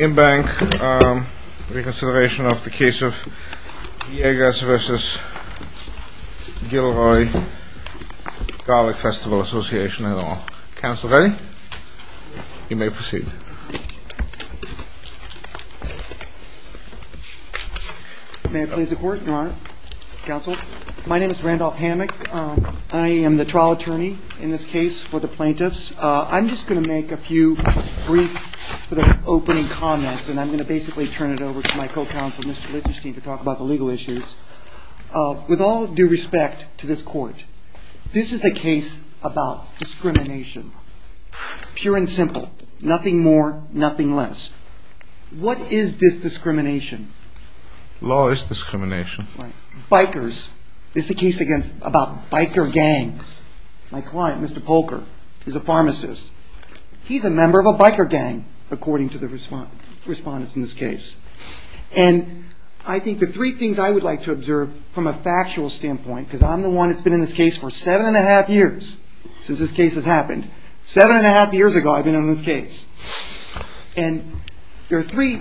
Inbank reconsideration of the case of Degas v. Gilroy Garlic Festival Association et al. Counsel ready? You may proceed. May I please the court, your honor? Counsel? My name is Randolph Hammock. I am the trial attorney in this case for the plaintiffs. I'm just going to make a few brief sort of opening comments and I'm going to basically turn it over to my co-counsel, Mr. Lichtenstein, to talk about the legal issues. With all due respect to this court, this is a case about discrimination, pure and simple, nothing more, nothing less. What is this discrimination? Law is discrimination. Bikers. This is a case about biker gangs. My client, Mr. Polker, is a pharmacist. He's a member of a biker gang, according to the respondents in this case. And I think the three things I would like to observe from a factual standpoint, because I'm the one that's been in this case for seven and a half years since this case has happened. Seven and a half years ago I've been in this case. And there are three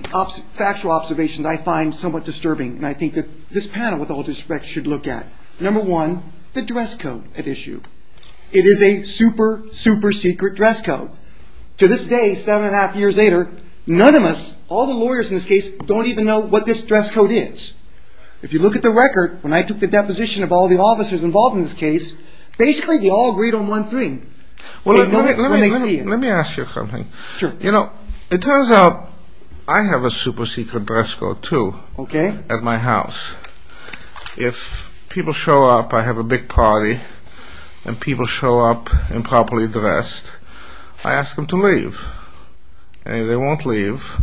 factual observations I find somewhat disturbing and I think that this panel, with all due respect, should look at. Number one, the dress code at issue. It is a super, super secret dress code. To this day, seven and a half years later, none of us, all the lawyers in this case, don't even know what this dress code is. If you look at the record, when I took the deposition of all the officers involved in this case, basically we all agreed on one thing. Let me ask you something. It turns out I have a super secret dress code too at my house. If people show up, I have a big party, and people show up improperly dressed, I ask them to leave. And if they won't leave,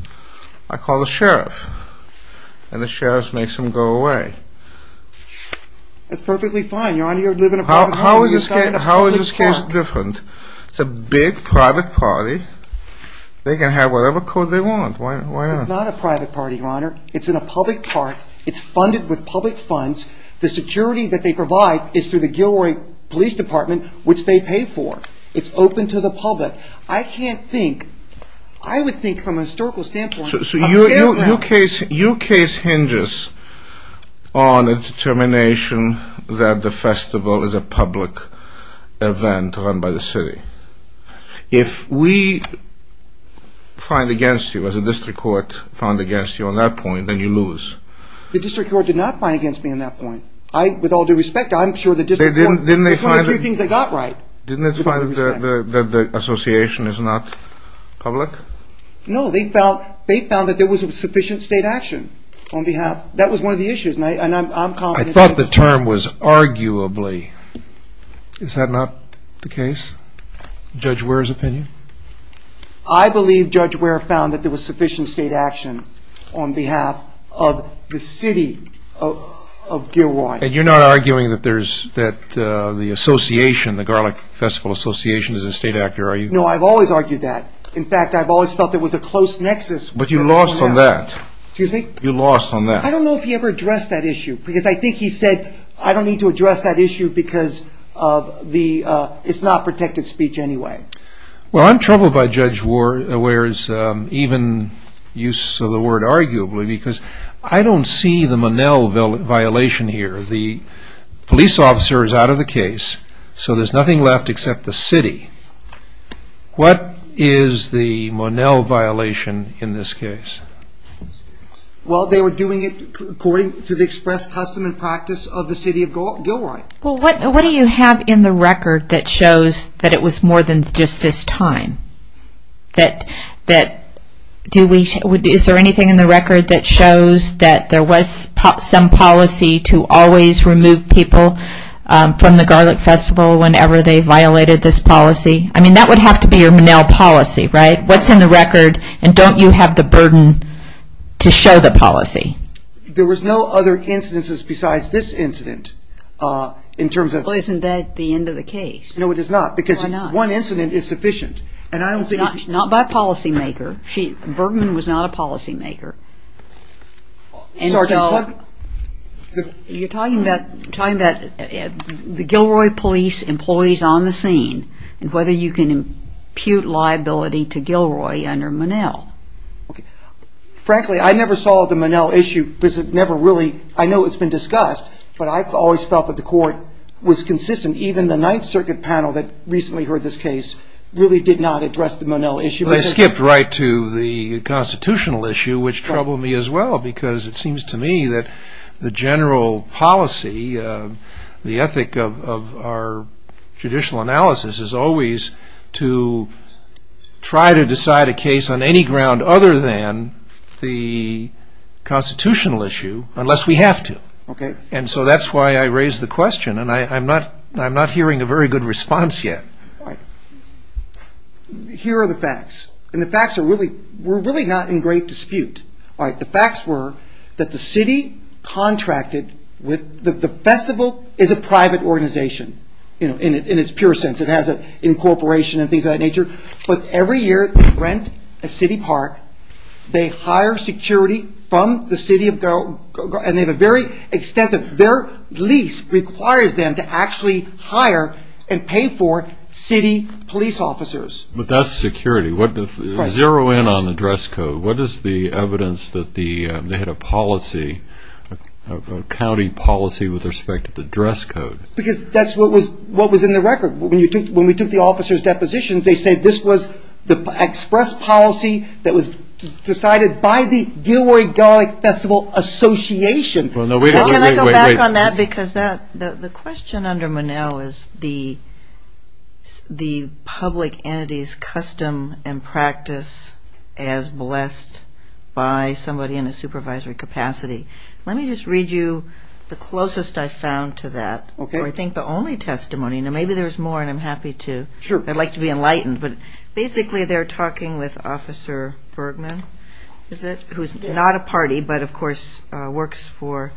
I call the sheriff. And the sheriff makes them go away. That's perfectly fine. Your Honor, you live in a public park. How is this case different? It's a big private party. They can have whatever code they want. Why not? It's not a private party, Your Honor. It's in a public park. It's funded with public funds. The security that they provide is through the Gilroy Police Department, which they pay for. It's open to the public. Your case hinges on a determination that the festival is a public event run by the city. If we find against you, as a district court found against you on that point, then you lose. The district court did not find against me on that point. With all due respect, I'm sure the district court. It's one of the few things they got right. Didn't they find that the association is not public? No, they found that there was sufficient state action on behalf. That was one of the issues. I thought the term was arguably. Is that not the case? Judge Ware's opinion? I believe Judge Ware found that there was sufficient state action on behalf of the city of Gilroy. And you're not arguing that the association, the Garlic Festival Association, is a state actor, are you? No, I've always argued that. In fact, I've always felt there was a close nexus. But you lost on that. Excuse me? You lost on that. I don't know if he ever addressed that issue, because I think he said, I don't need to address that issue because it's not protected speech anyway. Well, I'm troubled by Judge Ware's even use of the word arguably, because I don't see the Monell violation here. The police officer is out of the case, so there's nothing left except the city. What is the Monell violation in this case? Well, they were doing it according to the express custom and practice of the city of Gilroy. Well, what do you have in the record that shows that it was more than just this time? Is there anything in the record that shows that there was some policy to always remove people from the Garlic Festival whenever they violated this policy? I mean, that would have to be your Monell policy, right? What's in the record, and don't you have the burden to show the policy? There was no other incidences besides this incident. Well, isn't that the end of the case? No, it is not. Why not? One incident is sufficient. Not by a policymaker. Bergman was not a policymaker. You're talking about the Gilroy police employees on the scene and whether you can impute liability to Gilroy under Monell. Frankly, I never saw the Monell issue because it's never reallyóI know it's been discussed, but I've always felt that the court was consistent, and even the Ninth Circuit panel that recently heard this case really did not address the Monell issue. Well, they skipped right to the constitutional issue, which troubled me as well because it seems to me that the general policy, the ethic of our judicial analysis, is always to try to decide a case on any ground other than the constitutional issue unless we have to. And so that's why I raised the question, and I'm not hearing a very good response yet. Here are the facts, and the facts are reallyówe're really not in great dispute. The facts were that the city contracted withóthe festival is a private organization in its purest sense. It has an incorporation and things of that nature, but every year they rent a city park. They hire security from the city, and they have a very extensiveótheir lease requires them to actually hire and pay for city police officers. But that's security. Right. Zero in on the dress code. What is the evidence that they had a policy, a county policy with respect to the dress code? Because that's what was in the record. When we took the officers' depositions, they said this was the express policy that was decided by the Gilroy-Darling Festival Association. Can I go back on that because the question under Monell is the public entity's custom and practice as blessed by somebody in a supervisory capacity. Let me just read you the closest I found to that, or I think the only testimony. Now, maybe there's more, and I'm happy to. Sure. I'd like to be enlightened. But basically they're talking with Officer Bergman, is it, who's not a party but, of course, works for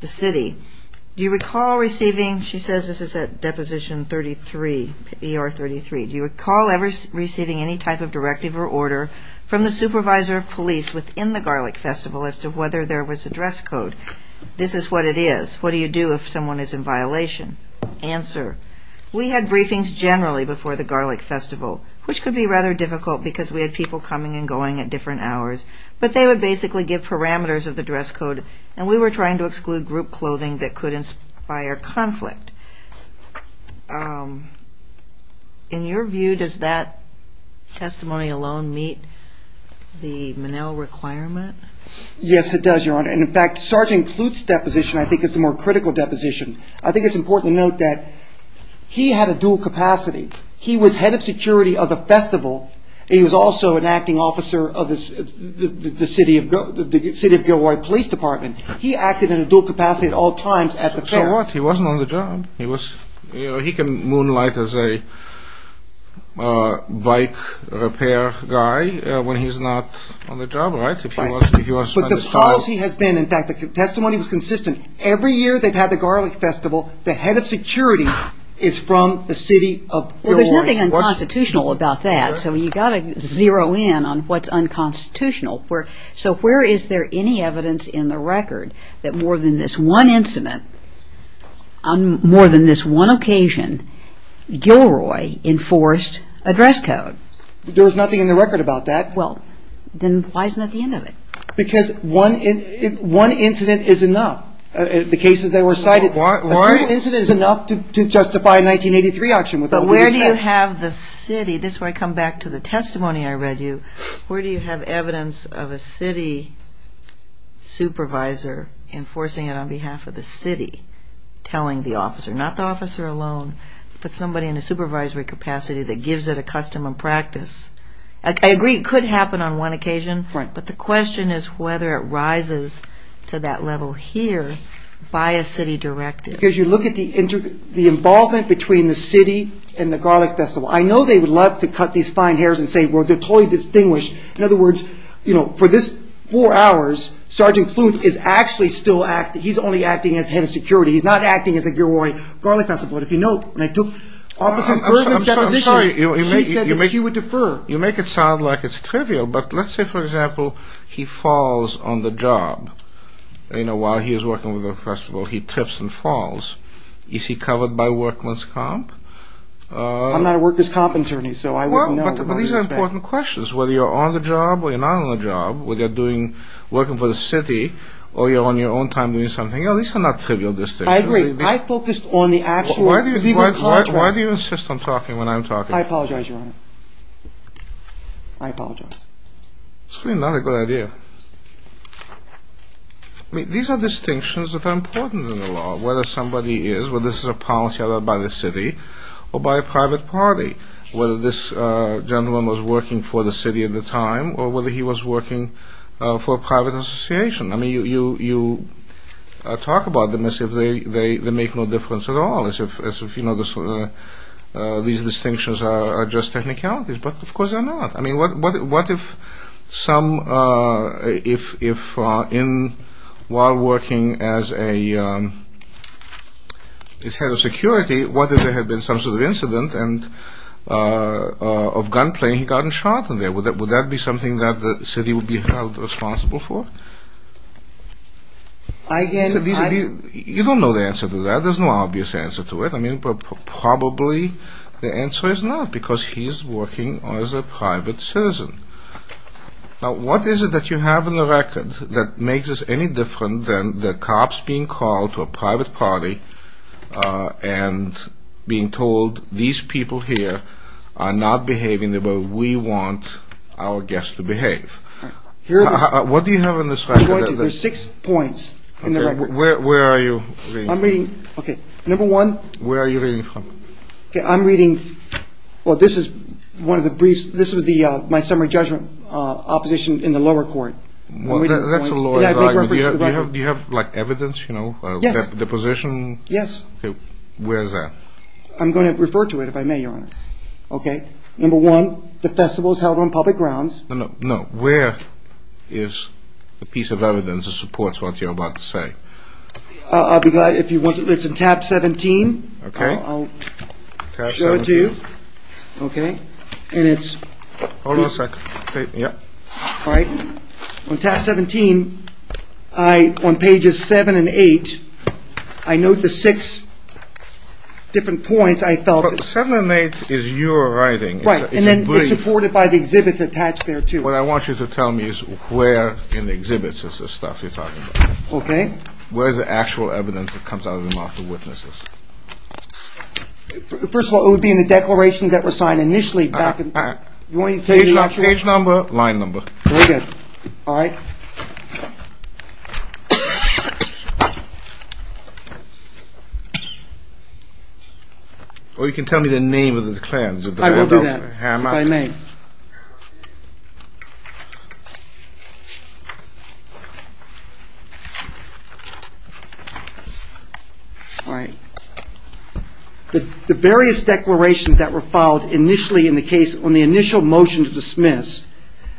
the city. Do you recall receivingóshe says this is at Deposition 33, ER 33. Do you recall ever receiving any type of directive or order from the supervisor of police within the Garlic Festival as to whether there was a dress code? This is what it is. What do you do if someone is in violation? Answer. We had briefings generally before the Garlic Festival, which could be rather difficult because we had people coming and going at different hours. But they would basically give parameters of the dress code, and we were trying to exclude group clothing that could inspire conflict. In your view, does that testimony alone meet the Monell requirement? Yes, it does, Your Honor. And, in fact, Sergeant Kloot's deposition I think is the more critical deposition. I think it's important to note that he had a dual capacity. He was head of security of the festival. He was also an acting officer of the city of Gilroy Police Department. He acted in a dual capacity at all times at the fair. So what? He wasn't on the job. He can moonlight as a bike repair guy when he's not on the job, right? But the policy has beenóin fact, the testimony was consistent. Every year they've had the Garlic Festival, the head of security is from the city of Gilroy. Well, there's nothing unconstitutional about that, so you've got to zero in on what's unconstitutional. So where is there any evidence in the record that more than this one incident, on more than this one occasion, Gilroy enforced a dress code? There was nothing in the record about that. Well, then why isn't that the end of it? Because one incident is enough, the cases that were cited. A single incident is enough to justify a 1983 auction. But where do you have the cityóthis is where I come back to the testimony I read you. Where do you have evidence of a city supervisor enforcing it on behalf of the city, telling the officer, not the officer alone, but somebody in a supervisory capacity that gives it a custom and practice? I agree it could happen on one occasion, but the question is whether it rises to that level here by a city directive. Because you look at the involvement between the city and the Garlic Festival. I know they would love to cut these fine hairs and say, well, they're totally distinguished. In other words, for this four hours, Sergeant Kloot is actually still acting. He's only acting as head of security. He's not acting as a Gilroy Garlic Festival. But if you note, when I took Officer Bergman's deposition, she said that she would defer. You make it sound like it's trivial, but let's say, for example, he falls on the job while he is working with the festival. He trips and falls. Is he covered by workman's comp? I'm not a worker's comp attorney, so I wouldn't know. But these are important questions, whether you're on the job or you're not on the job, whether you're working for the city or you're on your own time doing something. These are not trivial distinctions. I agree. I focused on the actual contract. Why do you insist on talking when I'm talking? I apologize, Your Honor. I apologize. It's really not a good idea. I mean, these are distinctions that are important in the law, whether somebody is, whether this is a policy by the city or by a private party, whether this gentleman was working for the city at the time or whether he was working for a private association. I mean, you talk about them as if they make no difference at all, as if these distinctions are just technicalities. But, of course, they're not. I mean, what if while working as a head of security, what if there had been some sort of incident of gunplay and he got shot? Would that be something that the city would be held responsible for? I can't answer that. You don't know the answer to that. There's no obvious answer to it. I mean, probably the answer is not because he's working as a private citizen. Now, what is it that you have in the record that makes this any different than the cops being called to a private party and being told these people here are not behaving the way we want our guests to behave? What do you have in this record? There's six points in the record. Where are you? I'm reading. Okay. Number one. Where are you reading from? I'm reading. Well, this is one of the briefs. This was my summary judgment opposition in the lower court. That's a lawyer. Do you have, like, evidence, you know? Yes. Deposition? Yes. Where is that? I'm going to refer to it, if I may, Your Honor. Okay. Number one, the festival is held on public grounds. No, no. Where is the piece of evidence that supports what you're about to say? It's in tab 17. Okay. I'll show it to you. Okay. And it's... Hold on a second. Yeah. All right. On tab 17, on pages 7 and 8, I note the six different points I felt... But 7 and 8 is your writing. Right. And then it's supported by the exhibits attached there, too. What I want you to tell me is where in the exhibits is the stuff you're talking about. Okay. Where is the actual evidence that comes out of the mouth of witnesses? First of all, it would be in the declarations that were signed initially back in... Page number, line number. Very good. All right. Or you can tell me the name of the declarants. I will do that, if I may. All right. The various declarations that were filed initially in the case on the initial motion to dismiss,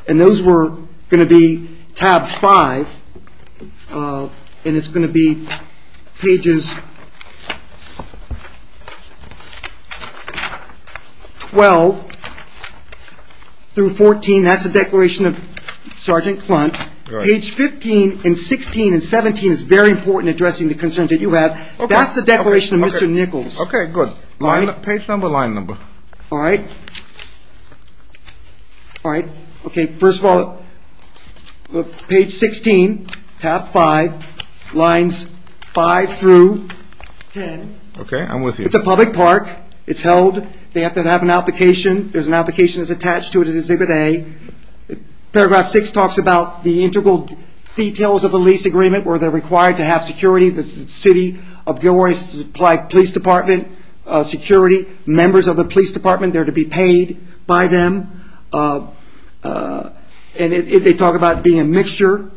and those were going to be tab 5, and it's going to be pages 12 through 14. That's the declaration of Sergeant Clunt. All right. Page 15 and 16 and 17 is very important in addressing the concerns that you have. That's the declaration of Mr. Nichols. Okay, good. Line... Page number, line number. All right. All right. Okay, first of all, page 16, tab 5, lines 5 through 10. Okay, I'm with you. It's a public park. It's held. They have to have an application. There's an application that's attached to it as exhibit A. Paragraph 6 talks about the integral details of the lease agreement, where they're required to have security. The city of Gilroy supplied police department security. Members of the police department are there to be paid by them, and they talk about it being a mixture.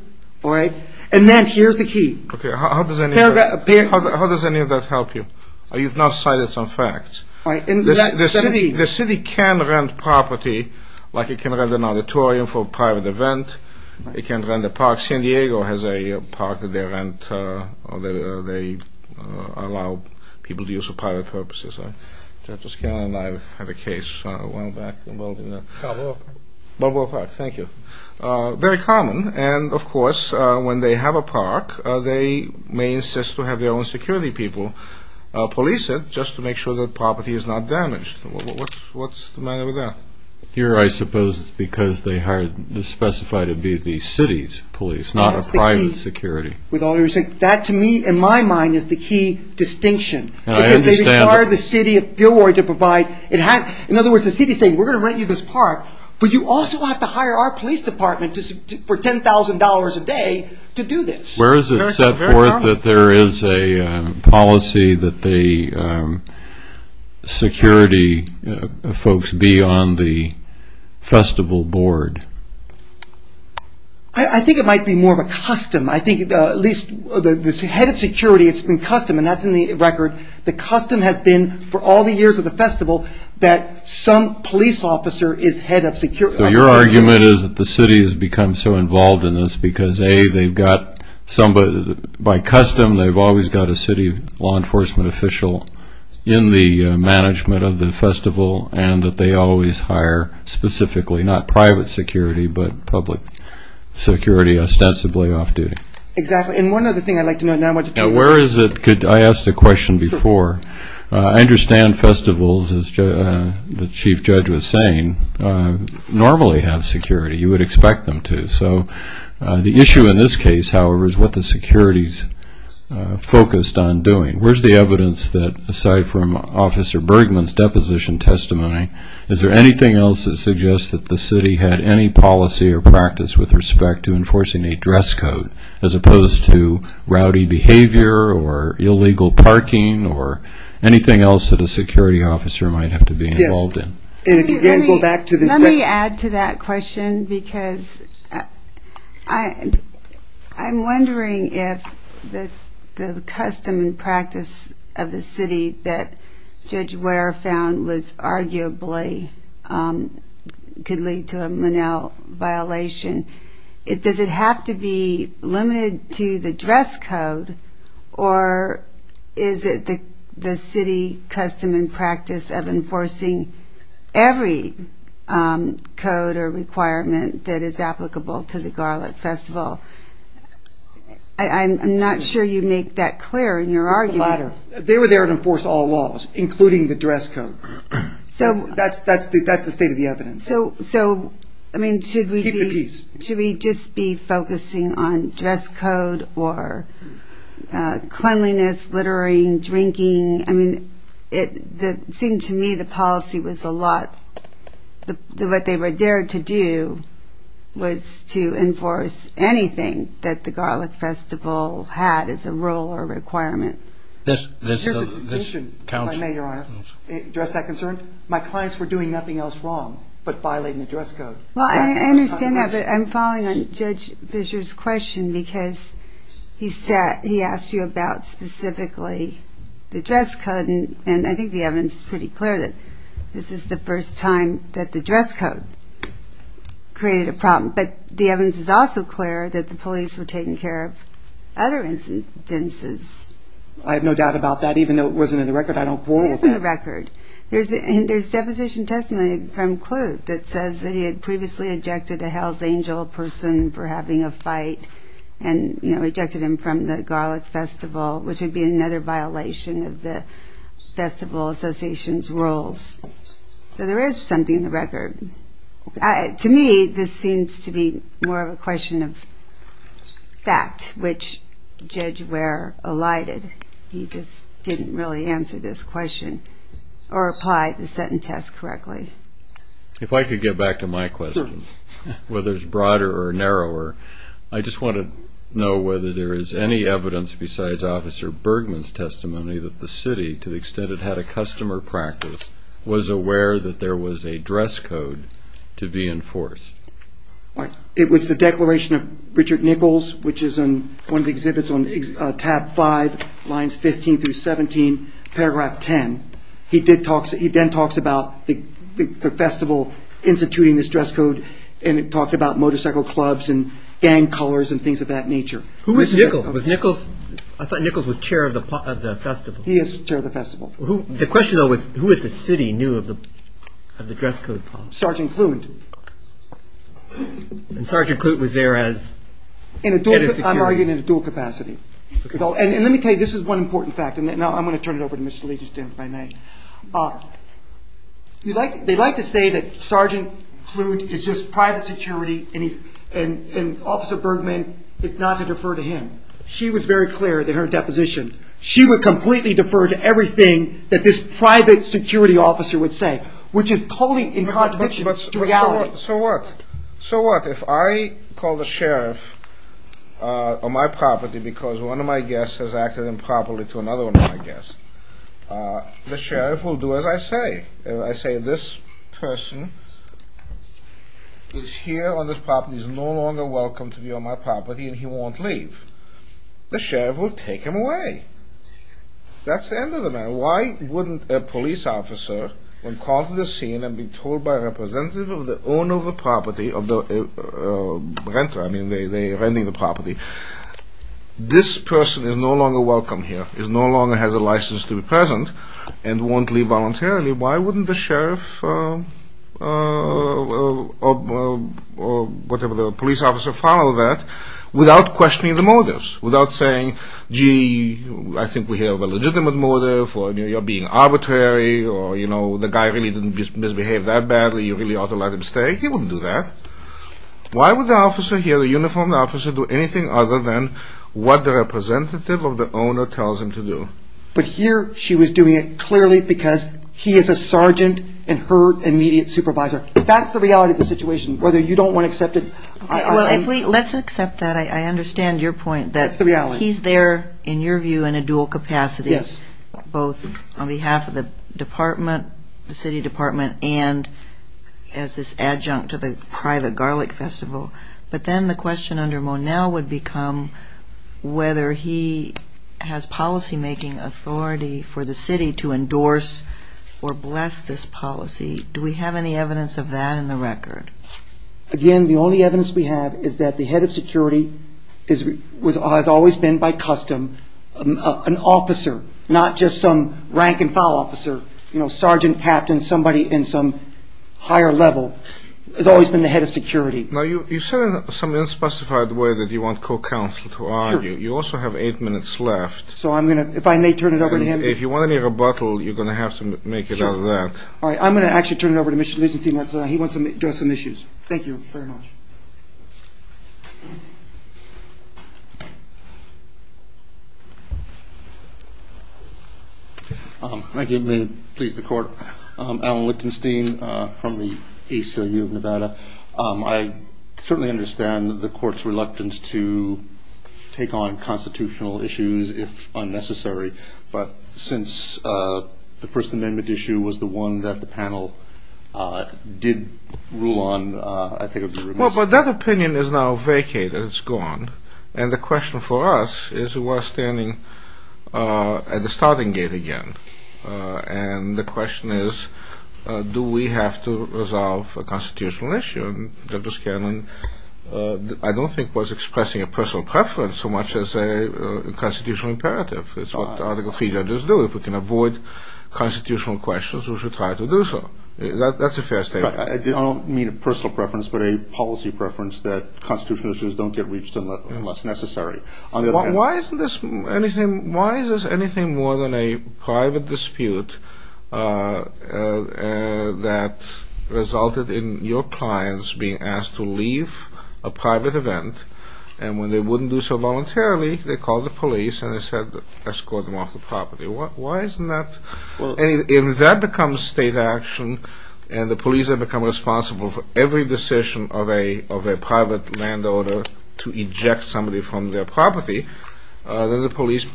And then here's the key. How does any of that help you? You've now cited some facts. The city can rent property, like it can rent an auditorium for a private event. It can rent a park. San Diego has a park there, and they allow people to use for private purposes. Judge Scanlon and I have a case. Balboa Park. Balboa Park. Thank you. Very common. And, of course, when they have a park, they may insist to have their own security people police it just to make sure the property is not damaged. What's the matter with that? Here, I suppose, it's because they specify to be the city's police, not a private security. That, to me, in my mind, is the key distinction. Because they require the city of Gilroy to provide. In other words, the city is saying, we're going to rent you this park, but you also have to hire our police department for $10,000 a day to do this. Where is it set forth that there is a policy that the security folks be on the festival board? I think it might be more of a custom. I think at least the head of security, it's been custom, and that's in the record. The custom has been for all the years of the festival that some police officer is head of security. So your argument is that the city has become so involved in this because, A, by custom, they've always got a city law enforcement official in the management of the festival and that they always hire specifically not private security but public security ostensibly off-duty. Exactly. And one other thing I'd like to know now. Where is it? I asked the question before. I understand festivals, as the chief judge was saying, normally have security. You would expect them to. So the issue in this case, however, is what the security is focused on doing. Where is the evidence that, aside from Officer Bergman's deposition testimony, is there anything else that suggests that the city had any policy or practice with respect to enforcing a dress code as opposed to rowdy behavior or illegal parking or anything else that a security officer might have to be involved in? Yes. And if you can go back to the question. Let me add to that question because I'm wondering if the custom and practice of the city that Judge Ware found was arguably could lead to a Monell violation. Does it have to be limited to the dress code or is it the city custom and practice of enforcing every code or requirement that is applicable to the Garlick Festival? I'm not sure you make that clear in your argument. It's the latter. They were there to enforce all laws, including the dress code. That's the state of the evidence. So, I mean, should we just be focusing on dress code or cleanliness, littering, drinking? I mean, it seemed to me the policy was a lot. What they were there to do was to enforce anything that the Garlick Festival had as a rule or requirement. If I may, Your Honor, address that concern. My clients were doing nothing else wrong but violating the dress code. Well, I understand that, but I'm following on Judge Fischer's question because he asked you about specifically the dress code, and I think the evidence is pretty clear that this is the first time that the dress code created a problem. But the evidence is also clear that the police were taking care of other incidences. I have no doubt about that, even though it wasn't in the record. I don't quarrel with that. It is in the record. There's deposition testimony from Kloot that says that he had previously ejected a Hells Angel person for having a fight and ejected him from the Garlick Festival, which would be another violation of the Festival Association's rules. So there is something in the record. To me, this seems to be more of a question of fact, which Judge Ware elided. He just didn't really answer this question or apply the Seton test correctly. If I could get back to my question, whether it's broader or narrower, I just want to know whether there is any evidence besides Officer Bergman's testimony that the city, to the extent it had a customer practice, was aware that there was a dress code to be enforced. It was the declaration of Richard Nichols, which is in one of the exhibits on tab 5, lines 15 through 17, paragraph 10. He then talks about the festival instituting this dress code, and he talked about motorcycle clubs and gang colors and things of that nature. Who was Nichols? I thought Nichols was chair of the festival. He is chair of the festival. The question, though, was who at the city knew of the dress code? Sergeant Kloot. And Sergeant Kloot was there as head of security? I'm arguing in a dual capacity. And let me tell you, this is one important fact. Now I'm going to turn it over to Mr. Lee, if I may. They like to say that Sergeant Kloot is just private security and Officer Bergman is not to defer to him. She was very clear in her deposition. She would completely defer to everything that this private security officer would say, which is totally in contradiction to reality. So what? So what? If I call the sheriff on my property because one of my guests has acted improperly to another one of my guests, the sheriff will do as I say. If I say this person is here on this property, is no longer welcome to be on my property, and he won't leave, the sheriff will take him away. That's the end of the matter. Why wouldn't a police officer, when called to the scene and be told by a representative of the owner of the property, of the renter, I mean, they're renting the property, this person is no longer welcome here, is no longer has a license to be present, and won't leave voluntarily, why wouldn't the sheriff or whatever the police officer follow that without questioning the motives, without saying, gee, I think we have a legitimate motive, or you're being arbitrary, or, you know, the guy really didn't misbehave that badly, you really ought to let him stay. He wouldn't do that. Why would the officer here, the uniformed officer, do anything other than what the representative of the owner tells him to do? But here she was doing it clearly because he is a sergeant and her immediate supervisor. That's the reality of the situation, whether you don't want to accept it. Let's accept that. I understand your point that he's there, in your view, in a dual capacity, both on behalf of the department, the city department, and as this adjunct to the private garlic festival, but then the question under Monell would become whether he has policymaking authority for the city to endorse or bless this policy. Do we have any evidence of that in the record? Again, the only evidence we have is that the head of security has always been, by custom, an officer, not just some rank-and-file officer, you know, sergeant, captain, somebody in some higher level, has always been the head of security. Now, you said in some unspecified way that you want co-counsel to argue. You also have eight minutes left. So I'm going to, if I may turn it over to him. If you want any rebuttal, you're going to have to make it out of that. All right, I'm going to actually turn it over to Mr. Leisenthin. He wants to address some issues. Thank you very much. Thank you. May it please the Court. Alan Lichtenstein from the ACLU of Nevada. I certainly understand the Court's reluctance to take on constitutional issues if unnecessary, but since the First Amendment issue was the one that the panel did rule on, I think it would be remiss. Well, but that opinion is now vacated. It's gone. And the question for us is we're standing at the starting gate again. And the question is, do we have to resolve a constitutional issue? And Justice Kagan, I don't think, was expressing a personal preference so much as a constitutional imperative. It's what Article III judges do. If we can avoid constitutional questions, we should try to do so. That's a fair statement. I don't mean a personal preference, but a policy preference that constitutional issues don't get reached unless necessary. Why is this anything more than a private dispute that resulted in your clients being asked to leave a private event, and when they wouldn't do so voluntarily, they called the police and they said escort them off the property? Why isn't that? If that becomes state action and the police have become responsible for every decision of a private land owner to eject somebody from their property, then the police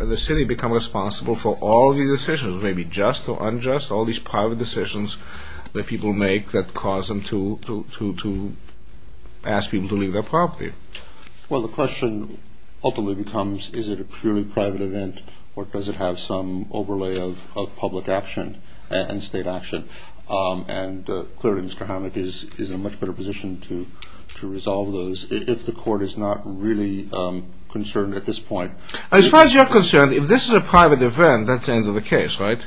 and the city become responsible for all the decisions, maybe just or unjust, all these private decisions that people make that cause them to ask people to leave their property. Well, the question ultimately becomes, is it a purely private event, or does it have some overlay of public action and state action? And clearly Mr. Hammack is in a much better position to resolve those if the court is not really concerned at this point. As far as you're concerned, if this is a private event, that's the end of the case, right?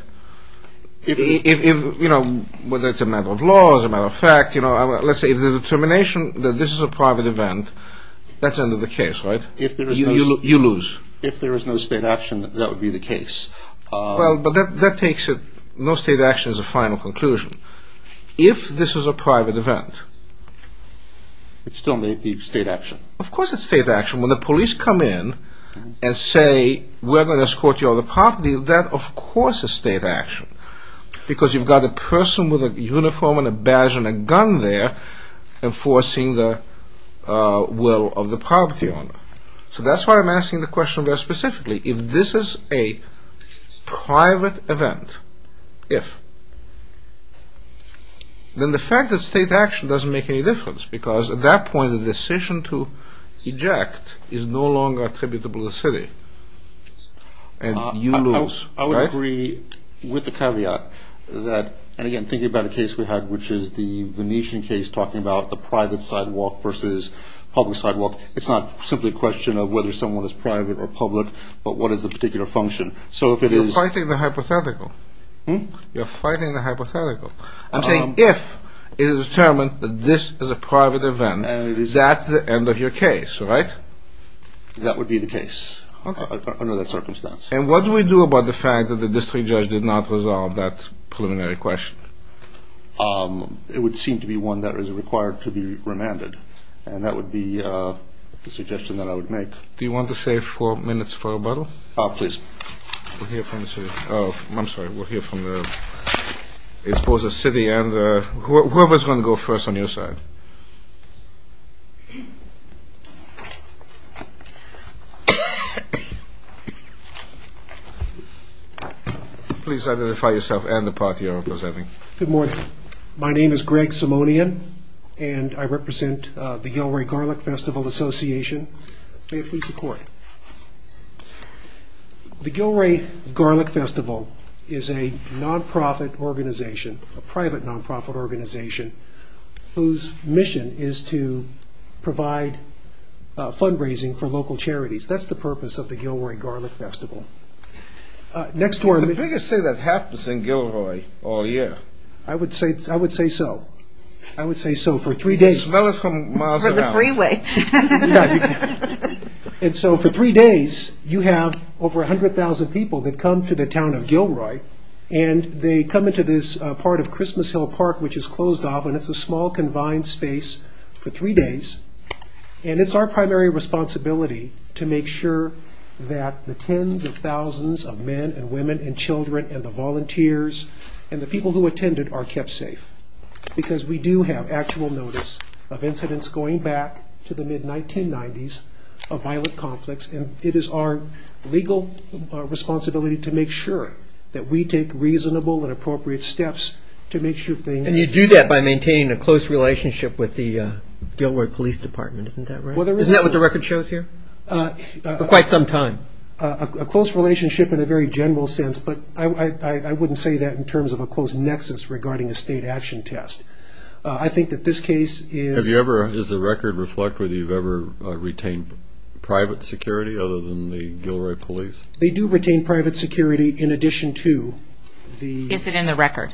If, you know, whether it's a matter of law or a matter of fact, let's say if there's a determination that this is a private event, that's the end of the case, right? You lose. If there is no state action, that would be the case. Well, but that takes it, no state action is a final conclusion. If this is a private event... It still may be state action. Of course it's state action. When the police come in and say, we're going to escort you out of the property, that of course is state action. Because you've got a person with a uniform and a badge and a gun there enforcing the will of the property owner. So that's why I'm asking the question very specifically. If this is a private event, if, then the fact that state action doesn't make any difference, because at that point the decision to eject is no longer attributable to the city. And you lose. I would agree with the caveat that, and again, thinking about the case we had, which is the Venetian case talking about the private sidewalk versus public sidewalk. It's not simply a question of whether someone is private or public, but what is the particular function. So if it is... You're fighting the hypothetical. Hmm? You're fighting the hypothetical. I'm saying if it is determined that this is a private event, that's the end of your case, right? That would be the case under that circumstance. And what do we do about the fact that the district judge did not resolve that preliminary question? It would seem to be one that is required to be remanded. And that would be the suggestion that I would make. Do you want to save four minutes for rebuttal? Oh, please. We'll hear from the city. Oh, I'm sorry. We'll hear from, I suppose, the city and whoever is going to go first on your side. Please identify yourself and the party you're representing. Good morning. My name is Greg Simonian, and I represent the Yale Ray Garlic Festival Association. May it please the court. The Gilroy Garlic Festival is a nonprofit organization, a private nonprofit organization, whose mission is to provide fundraising for local charities. That's the purpose of the Gilroy Garlic Festival. It's the biggest thing that happens in Gilroy all year. I would say so. I would say so for three days. You can smell it from miles around. From the freeway. And so for three days, you have over 100,000 people that come to the town of Gilroy, and they come into this part of Christmas Hill Park, which is closed off, and it's a small, confined space for three days. And it's our primary responsibility to make sure that the tens of thousands of men and women and children and the volunteers and the people who attended are kept safe, because we do have actual notice of incidents going back to the mid-1990s of violent conflicts, and it is our legal responsibility to make sure that we take reasonable and appropriate steps to make sure things are safe. And you do that by maintaining a close relationship with the Gilroy Police Department. Isn't that right? Isn't that what the record shows here? For quite some time. A close relationship in a very general sense, but I wouldn't say that in terms of a close nexus regarding a state action test. I think that this case is... Does the record reflect whether you've ever retained private security other than the Gilroy Police? They do retain private security in addition to the... Is it in the record?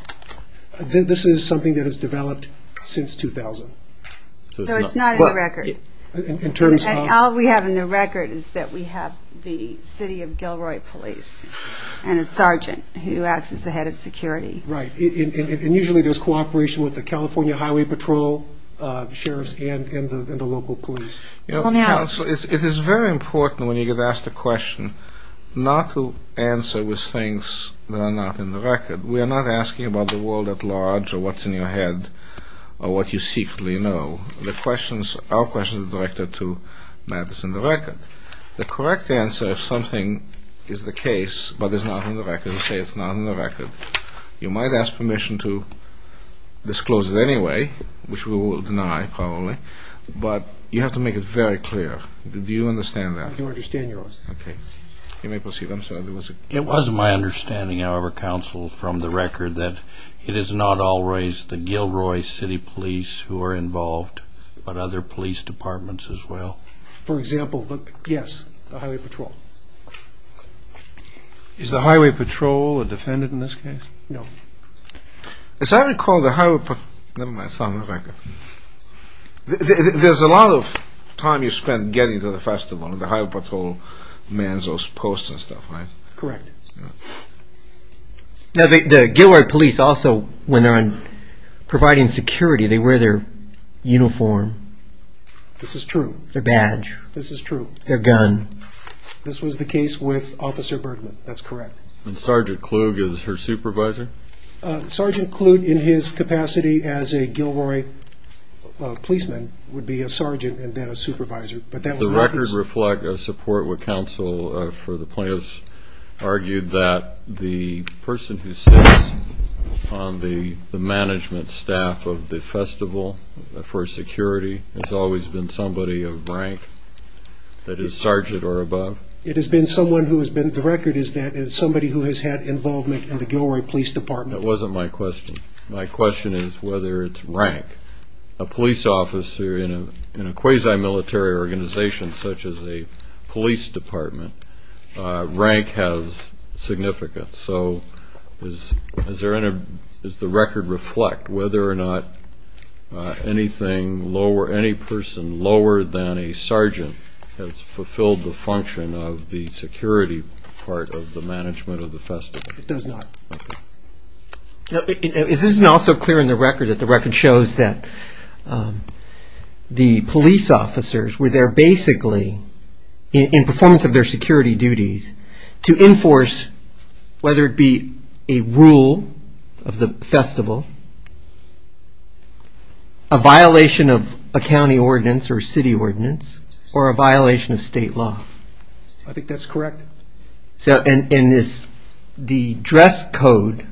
This is something that has developed since 2000. So it's not in the record. All we have in the record is that we have the city of Gilroy Police, and a sergeant who acts as the head of security. Right. And usually there's cooperation with the California Highway Patrol, the sheriffs, and the local police. Counsel, it is very important when you get asked a question not to answer with things that are not in the record. We are not asking about the world at large or what's in your head or what you secretly know. Our questions are directed to matters in the record. The correct answer, if something is the case but is not in the record, is to say it's not in the record. You might ask permission to disclose it anyway, which we will deny probably, but you have to make it very clear. Do you understand that? I do understand your question. Okay. You may proceed. I'm sorry, there was a... It was my understanding, however, Counsel, from the record, that it is not always the Gilroy City Police who are involved, but other police departments as well. For example, yes, the Highway Patrol. Is the Highway Patrol a defendant in this case? No. As I recall, the Highway Patrol... never mind, it's not in the record. There's a lot of time you spend getting to the festival, and the Highway Patrol mans those posts and stuff, right? Correct. The Gilroy Police also, when they're providing security, they wear their uniform. This is true. Their badge. This is true. Their gun. This was the case with Officer Bergman. That's correct. And Sergeant Klug is her supervisor? Sergeant Klug, in his capacity as a Gilroy policeman, would be a sergeant and then a supervisor, but that was not the case. The record reflects a support with Counsel for the plaintiffs, argued that the person who sits on the management staff of the festival for security has always been somebody of rank, that is sergeant or above? It has been someone who has been... the record is that it's somebody who has had involvement in the Gilroy Police Department. That wasn't my question. My question is whether it's rank. A police officer in a quasi-military organization such as a police department, rank has significance. So does the record reflect whether or not any person lower than a sergeant has fulfilled the function of the security part of the management of the festival? It does not. Okay. Isn't it also clear in the record that the record shows that the police officers were there basically in performance of their security duties to enforce, whether it be a rule of the festival, a violation of a county ordinance or city ordinance, or a violation of state law? I think that's correct. And the dress code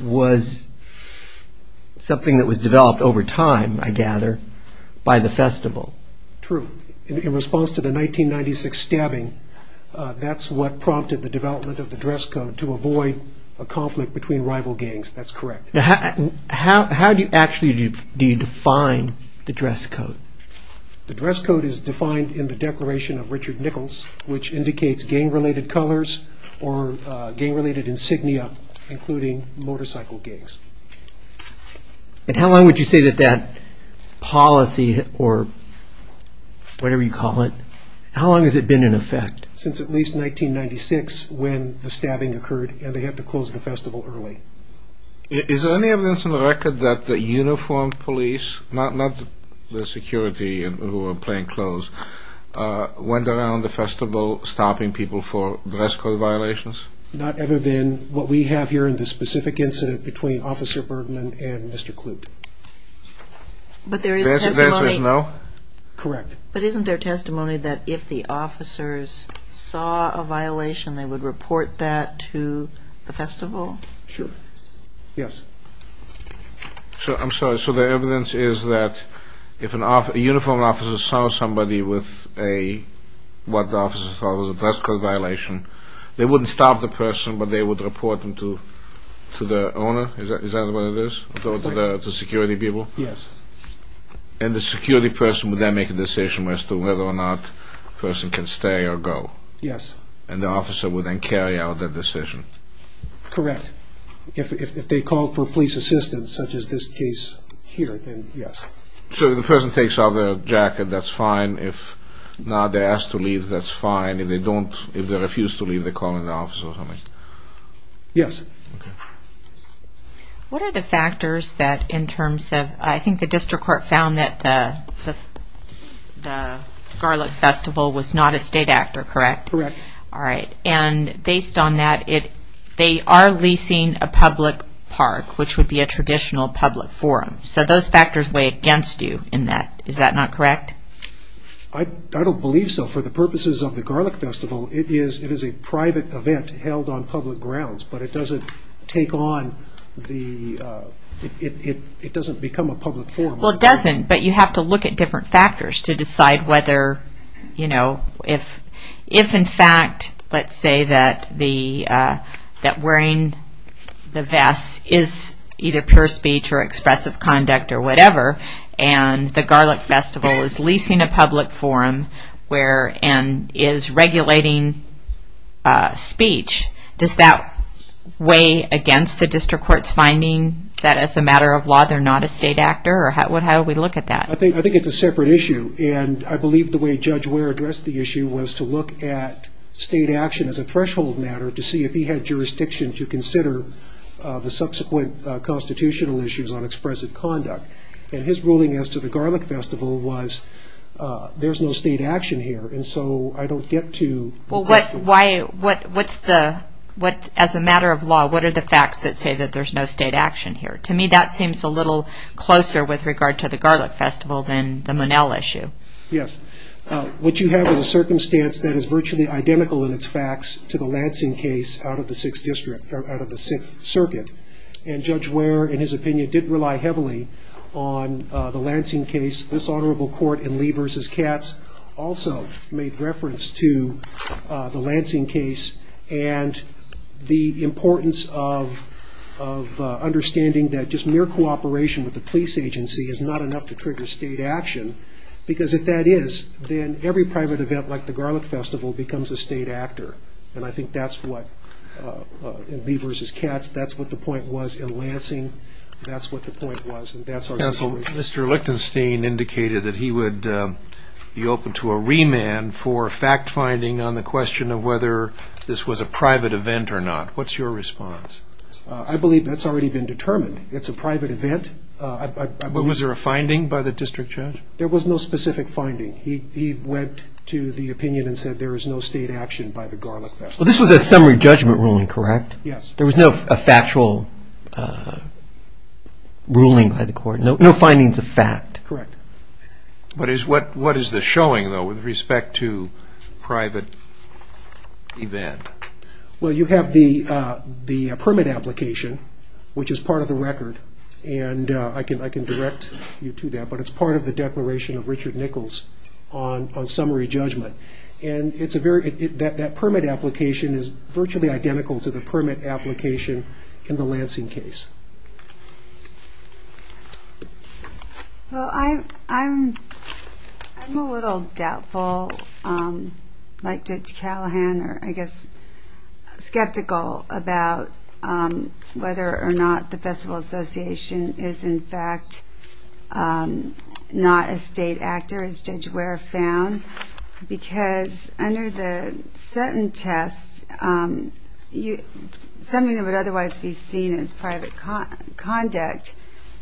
was something that was developed over time, I gather, by the festival. True. In response to the 1996 stabbing, that's what prompted the development of the dress code to avoid a conflict between rival gangs. That's correct. How do you actually define the dress code? The dress code is defined in the Declaration of Richard Nichols, which indicates gang-related colors or gang-related insignia, including motorcycle gangs. And how long would you say that that policy, or whatever you call it, how long has it been in effect? Since at least 1996, when the stabbing occurred, and they had to close the festival early. Is there any evidence in the record that the uniformed police, not the security who were playing clothes, went around the festival stopping people for dress code violations? Not other than what we have here in this specific incident between Officer Bergman and Mr. Kloop. But there is testimony. The answer is no? Correct. But isn't there testimony that if the officers saw a violation, they would report that to the festival? Sure. Yes. I'm sorry. So the evidence is that if a uniformed officer saw somebody with what the officers thought was a dress code violation, they wouldn't stop the person, but they would report them to the owner? Is that what it is? Go to the security people? Yes. And the security person would then make a decision as to whether or not the person can stay or go? Yes. And the officer would then carry out that decision? Correct. If they called for police assistance, such as this case here, then yes. So if the person takes off their jacket, that's fine. If not, they're asked to leave, that's fine. If they don't, if they refuse to leave, they call in the office or something? Yes. Okay. What are the factors that in terms of, I think the district court found that the Garlic Festival was not a state actor, correct? Correct. All right. And based on that, they are leasing a public park, which would be a traditional public forum. So those factors weigh against you in that. Is that not correct? I don't believe so. For the purposes of the Garlic Festival, it is a private event held on public grounds, but it doesn't take on the, it doesn't become a public forum. Well, it doesn't, but you have to look at different factors to decide whether, you know, if in fact, let's say that wearing the vest is either pure speech or expressive conduct or whatever, and the Garlic Festival is leasing a public forum and is regulating speech, does that weigh against the district court's finding that as a matter of law they're not a state actor? How would we look at that? I think it's a separate issue, and I believe the way Judge Ware addressed the issue was to look at state action as a threshold matter to see if he had jurisdiction to consider the subsequent constitutional issues on expressive conduct. And his ruling as to the Garlic Festival was there's no state action here, and so I don't get to the question. Well, what, why, what, what's the, what, as a matter of law, what are the facts that say that there's no state action here? To me, that seems a little closer with regard to the Garlic Festival than the Monell issue. Yes. What you have is a circumstance that is virtually identical in its facts to the Lansing case out of the 6th district, out of the 6th circuit, and Judge Ware, in his opinion, didn't rely heavily on the Lansing case. This honorable court in Lee v. Katz also made reference to the Lansing case and the importance of understanding that just mere cooperation with the police agency is not enough to trigger state action, because if that is, then every private event like the Garlic Festival becomes a state actor, and I think that's what, in Lee v. Katz, that's what the point was. In Lansing, that's what the point was, and that's our situation. Counsel, Mr. Lichtenstein indicated that he would be open to a remand for fact-finding on the question of whether this was a private event or not. What's your response? I believe that's already been determined. It's a private event. Was there a finding by the district judge? There was no specific finding. He went to the opinion and said there is no state action by the Garlic Festival. This was a summary judgment ruling, correct? Yes. There was no factual ruling by the court, no findings of fact? Correct. What is this showing, though, with respect to private event? Well, you have the permit application, which is part of the record, and I can direct you to that, but it's part of the declaration of Richard Nichols on summary judgment. That permit application is virtually identical to the permit application in the Lansing case. Well, I'm a little doubtful, like Judge Callahan, or I guess skeptical about whether or not the Festival Association is, in fact, not a state actor, as Judge Ware found, because under the Sutton test, something that would otherwise be seen as private conduct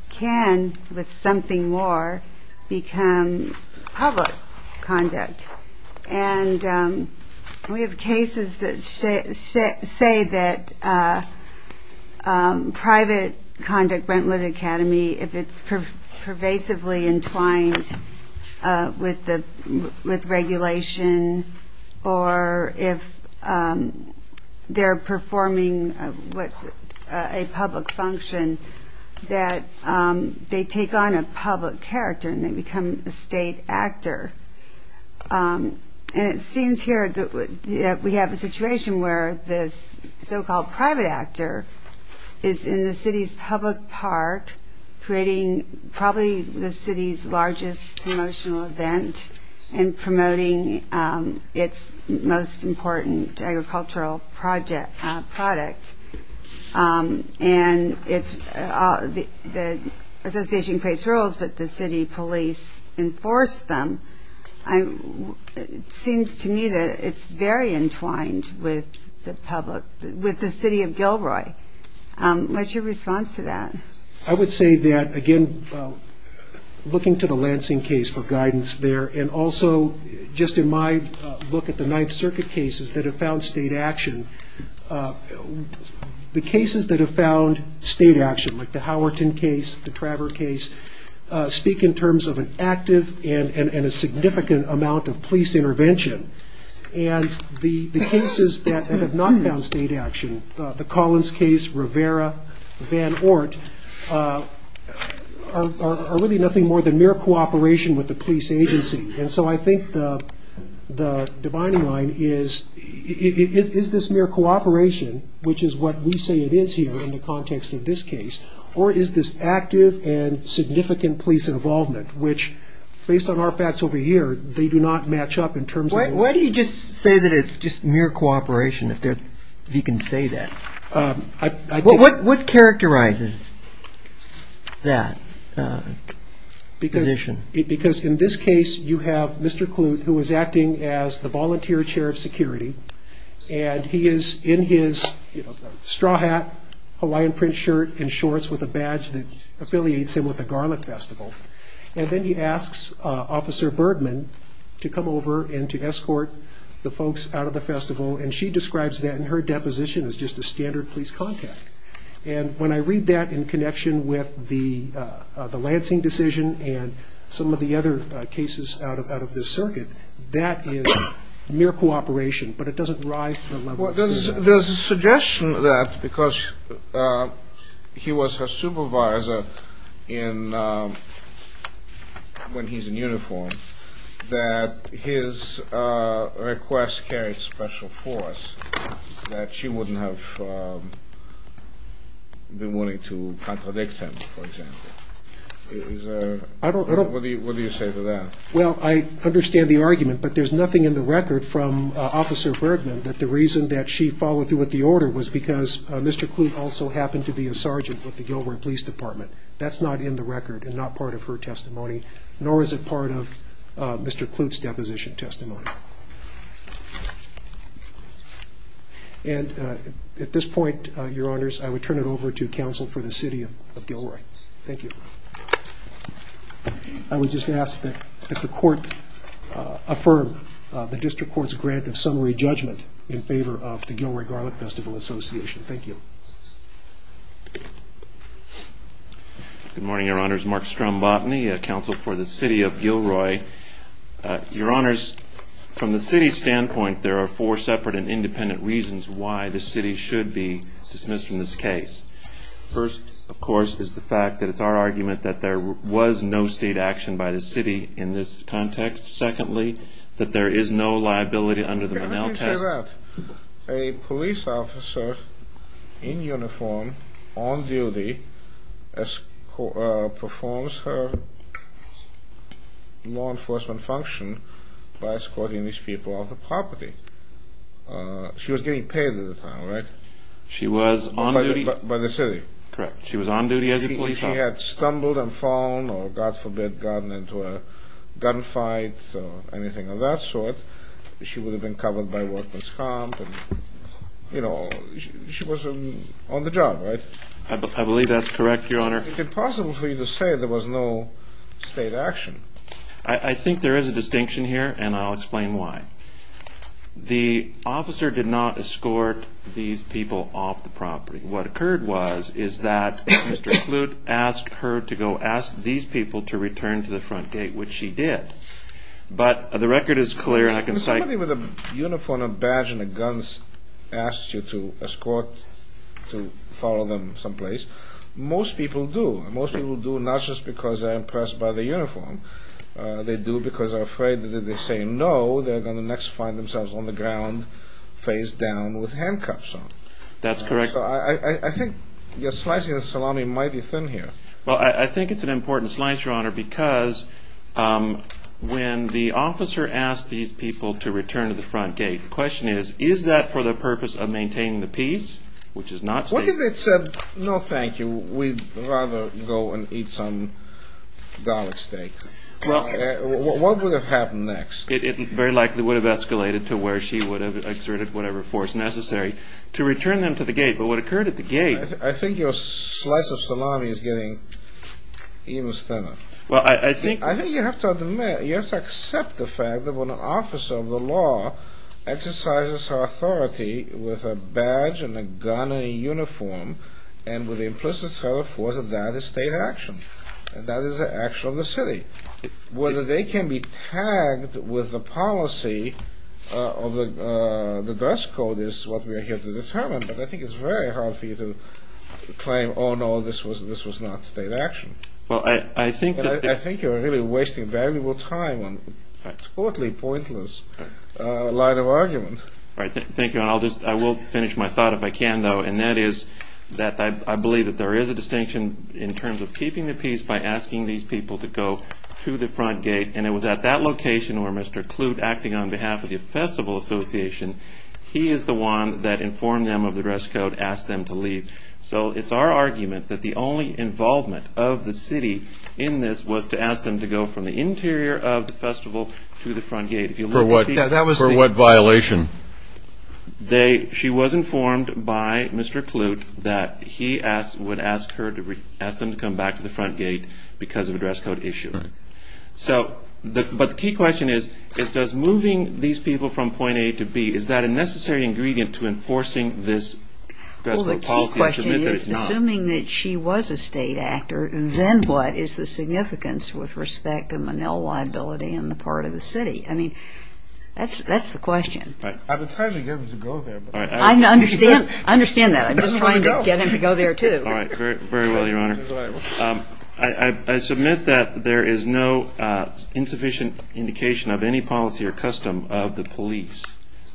can, with something more, become public conduct. And we have cases that say that private conduct, Brentwood Academy, if it's pervasively entwined with regulation, or if they're performing a public function, that they take on a public character, and they become a state actor. And it seems here that we have a situation where this so-called private actor is in the city's public park, creating probably the city's largest promotional event, and promoting its most important agricultural product. And the association creates rules, but the city police enforce them. It seems to me that it's very entwined with the city of Gilroy. What's your response to that? I would say that, again, looking to the Lansing case for guidance there, and also just in my look at the Ninth Circuit cases that have found state action, the cases that have found state action, like the Howerton case, the Traver case, speak in terms of an active and a significant amount of police intervention. And the cases that have not found state action, the Collins case, Rivera, Van Ort, are really nothing more than mere cooperation with the police agency. And so I think the dividing line is, is this mere cooperation, which is what we say it is here in the context of this case, or is this active and significant police involvement, which, based on our facts over here, they do not match up in terms of... Why do you just say that it's just mere cooperation, if you can say that? What characterizes that position? Because in this case, you have Mr. Kloot, who is acting as the volunteer chair of security, and he is in his straw hat, Hawaiian print shirt, and shorts with a badge that affiliates him with the Garlic Festival. And then he asks Officer Bergman to come over and to escort the folks out of the festival, and she describes that in her deposition as just a standard police contact. And when I read that in connection with the Lansing decision and some of the other cases out of this circuit, that is mere cooperation, but it doesn't rise to the level... Well, there's a suggestion that because he was her supervisor when he's in uniform, that his request carried special force, that she wouldn't have been willing to contradict him, for example. What do you say to that? Well, I understand the argument, but there's nothing in the record from Officer Bergman that the reason that she followed through with the order was because Mr. Kloot also happened to be a sergeant with the Gilroy Police Department. That's not in the record and not part of her testimony, nor is it part of Mr. Kloot's deposition testimony. And at this point, your honors, I would turn it over to counsel for the city of Gilroy. Thank you. I would just ask that the court affirm the district court's grant of summary judgment in favor of the Gilroy Garlic Festival Association. Thank you. Good morning, your honors. Mark Strombotny, counsel for the city of Gilroy. Your honors, from the city's standpoint, there are four separate and independent reasons why the city should be dismissed from this case. First, of course, is the fact that it's our argument that there was no state action by the city in this context. Secondly, that there is no liability under the Monell test. Let me say that. A police officer in uniform, on duty, performs her law enforcement function by escorting these people off the property. She was getting paid at the time, right? She was on duty. By the city. Correct. She was on duty as a police officer. She had stumbled and fallen or, God forbid, gotten into a gunfight or anything of that sort. She would have been covered by workman's comp. You know, she was on the job, right? I believe that's correct, your honor. Is it possible for you to say there was no state action? I think there is a distinction here, and I'll explain why. The officer did not escort these people off the property. What occurred was is that Mr. Kloot asked her to go ask these people to return to the front gate, which she did. But the record is clear, and I can cite... When somebody with a uniform, a badge, and a gun asks you to escort, to follow them someplace, most people do. Most people do not just because they're impressed by the uniform. They do because they're afraid that if they say no, they're going to next find themselves on the ground, face down, with handcuffs on. That's correct. So I think you're slicing the salami mighty thin here. Well, I think it's an important slice, your honor, because when the officer asked these people to return to the front gate, the question is, is that for the purpose of maintaining the peace, which is not safe? What if they said, no, thank you, we'd rather go and eat some garlic steak? What would have happened next? It very likely would have escalated to where she would have exerted whatever force necessary to return them to the gate. But what occurred at the gate... I think your slice of salami is getting even thinner. Well, I think... I think you have to accept the fact that when an officer of the law exercises her authority with a badge and a gun and a uniform, and with implicit self-worth, that is state action. That is the action of the city. Whether they can be tagged with the policy of the dress code is what we are here to determine, but I think it's very hard for you to claim, oh, no, this was not state action. Well, I think that... I think you're really wasting valuable time on totally pointless line of argument. Thank you, and I will finish my thought if I can, though, and that is that I believe that there is a distinction in terms of keeping the peace by asking these people to go to the front gate, and it was at that location where Mr. Kloot, acting on behalf of the Festival Association, he is the one that informed them of the dress code, asked them to leave. So it's our argument that the only involvement of the city in this was to ask them to go from the interior of the festival to the front gate. For what violation? She was informed by Mr. Kloot that he would ask them to come back to the front gate because of a dress code issue. But the key question is, is moving these people from point A to B, is that a necessary ingredient to enforcing this dress code policy? Well, the key question is, assuming that she was a state actor, then what is the significance with respect to Manil liability on the part of the city? I mean, that's the question. I've been trying to get them to go there. I understand that. I'm just trying to get them to go there, too. All right. Very well, Your Honor. I submit that there is no insufficient indication of any policy or custom of the police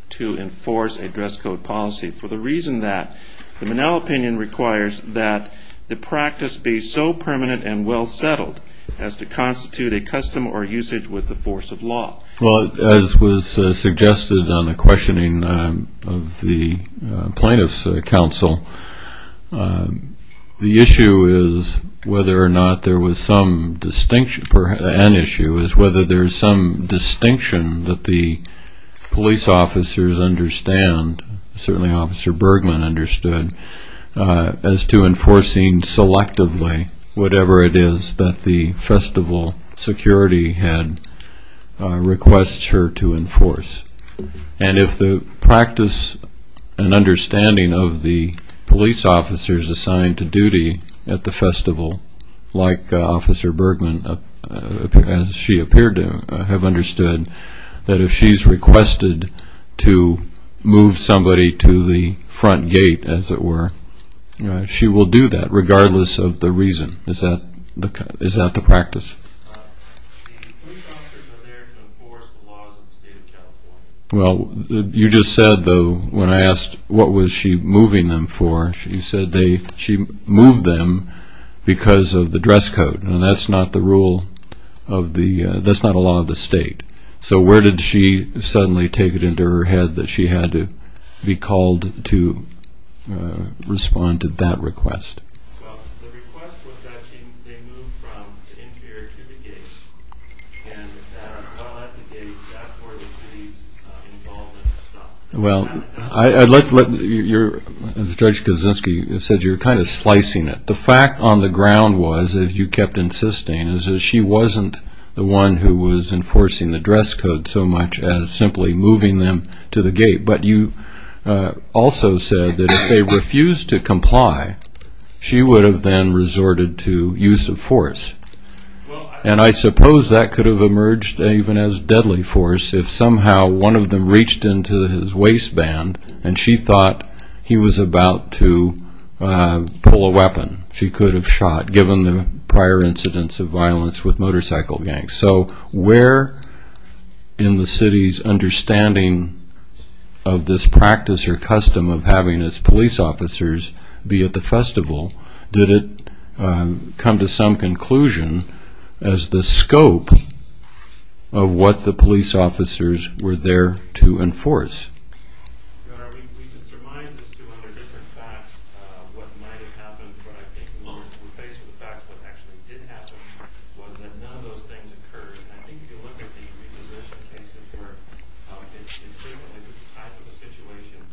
to enforce a dress code policy, for the reason that the Manil opinion requires that the practice be so permanent and well settled as to constitute a custom or usage with the force of law. Well, as was suggested on the questioning of the plaintiff's counsel, the issue is whether or not there was some distinction. An issue is whether there is some distinction that the police officers understand, certainly Officer Bergman understood, as to enforcing selectively whatever it is that the festival security requests her to enforce. And if the practice and understanding of the police officers assigned to duty at the festival, like Officer Bergman, as she appeared to have understood, that if she's requested to move somebody to the front gate, as it were, she will do that regardless of the reason. Is that the practice? The police officers are there to enforce the laws of the state of California. Well, you just said, though, when I asked what was she moving them for, she said she moved them because of the dress code. Now, that's not the rule of the – that's not a law of the state. So where did she suddenly take it into her head that she had to be called to respond to that request? Well, the request was that they move from the interior to the gate. And while at the gate, that's where the police involvement stopped. Well, I'd like to let you – as Judge Kaczynski said, you're kind of slicing it. The fact on the ground was, as you kept insisting, is that she wasn't the one who was enforcing the dress code so much as simply moving them to the gate. But you also said that if they refused to comply, she would have then resorted to use of force. And I suppose that could have emerged even as deadly force if somehow one of them reached into his waistband and she thought he was about to pull a weapon. She could have shot, given the prior incidents of violence with motorcycle gangs. So where in the city's understanding of this practice or custom of having its police officers be at the festival, did it come to some conclusion as the scope of what the police officers were there to enforce? Your Honor, we've been surmised as to, under different facts, what might have happened. But I think when we're faced with the facts, what actually did happen was that none of those things occurred. And I think if you look at the reposition cases where it's frequently this type of a situation,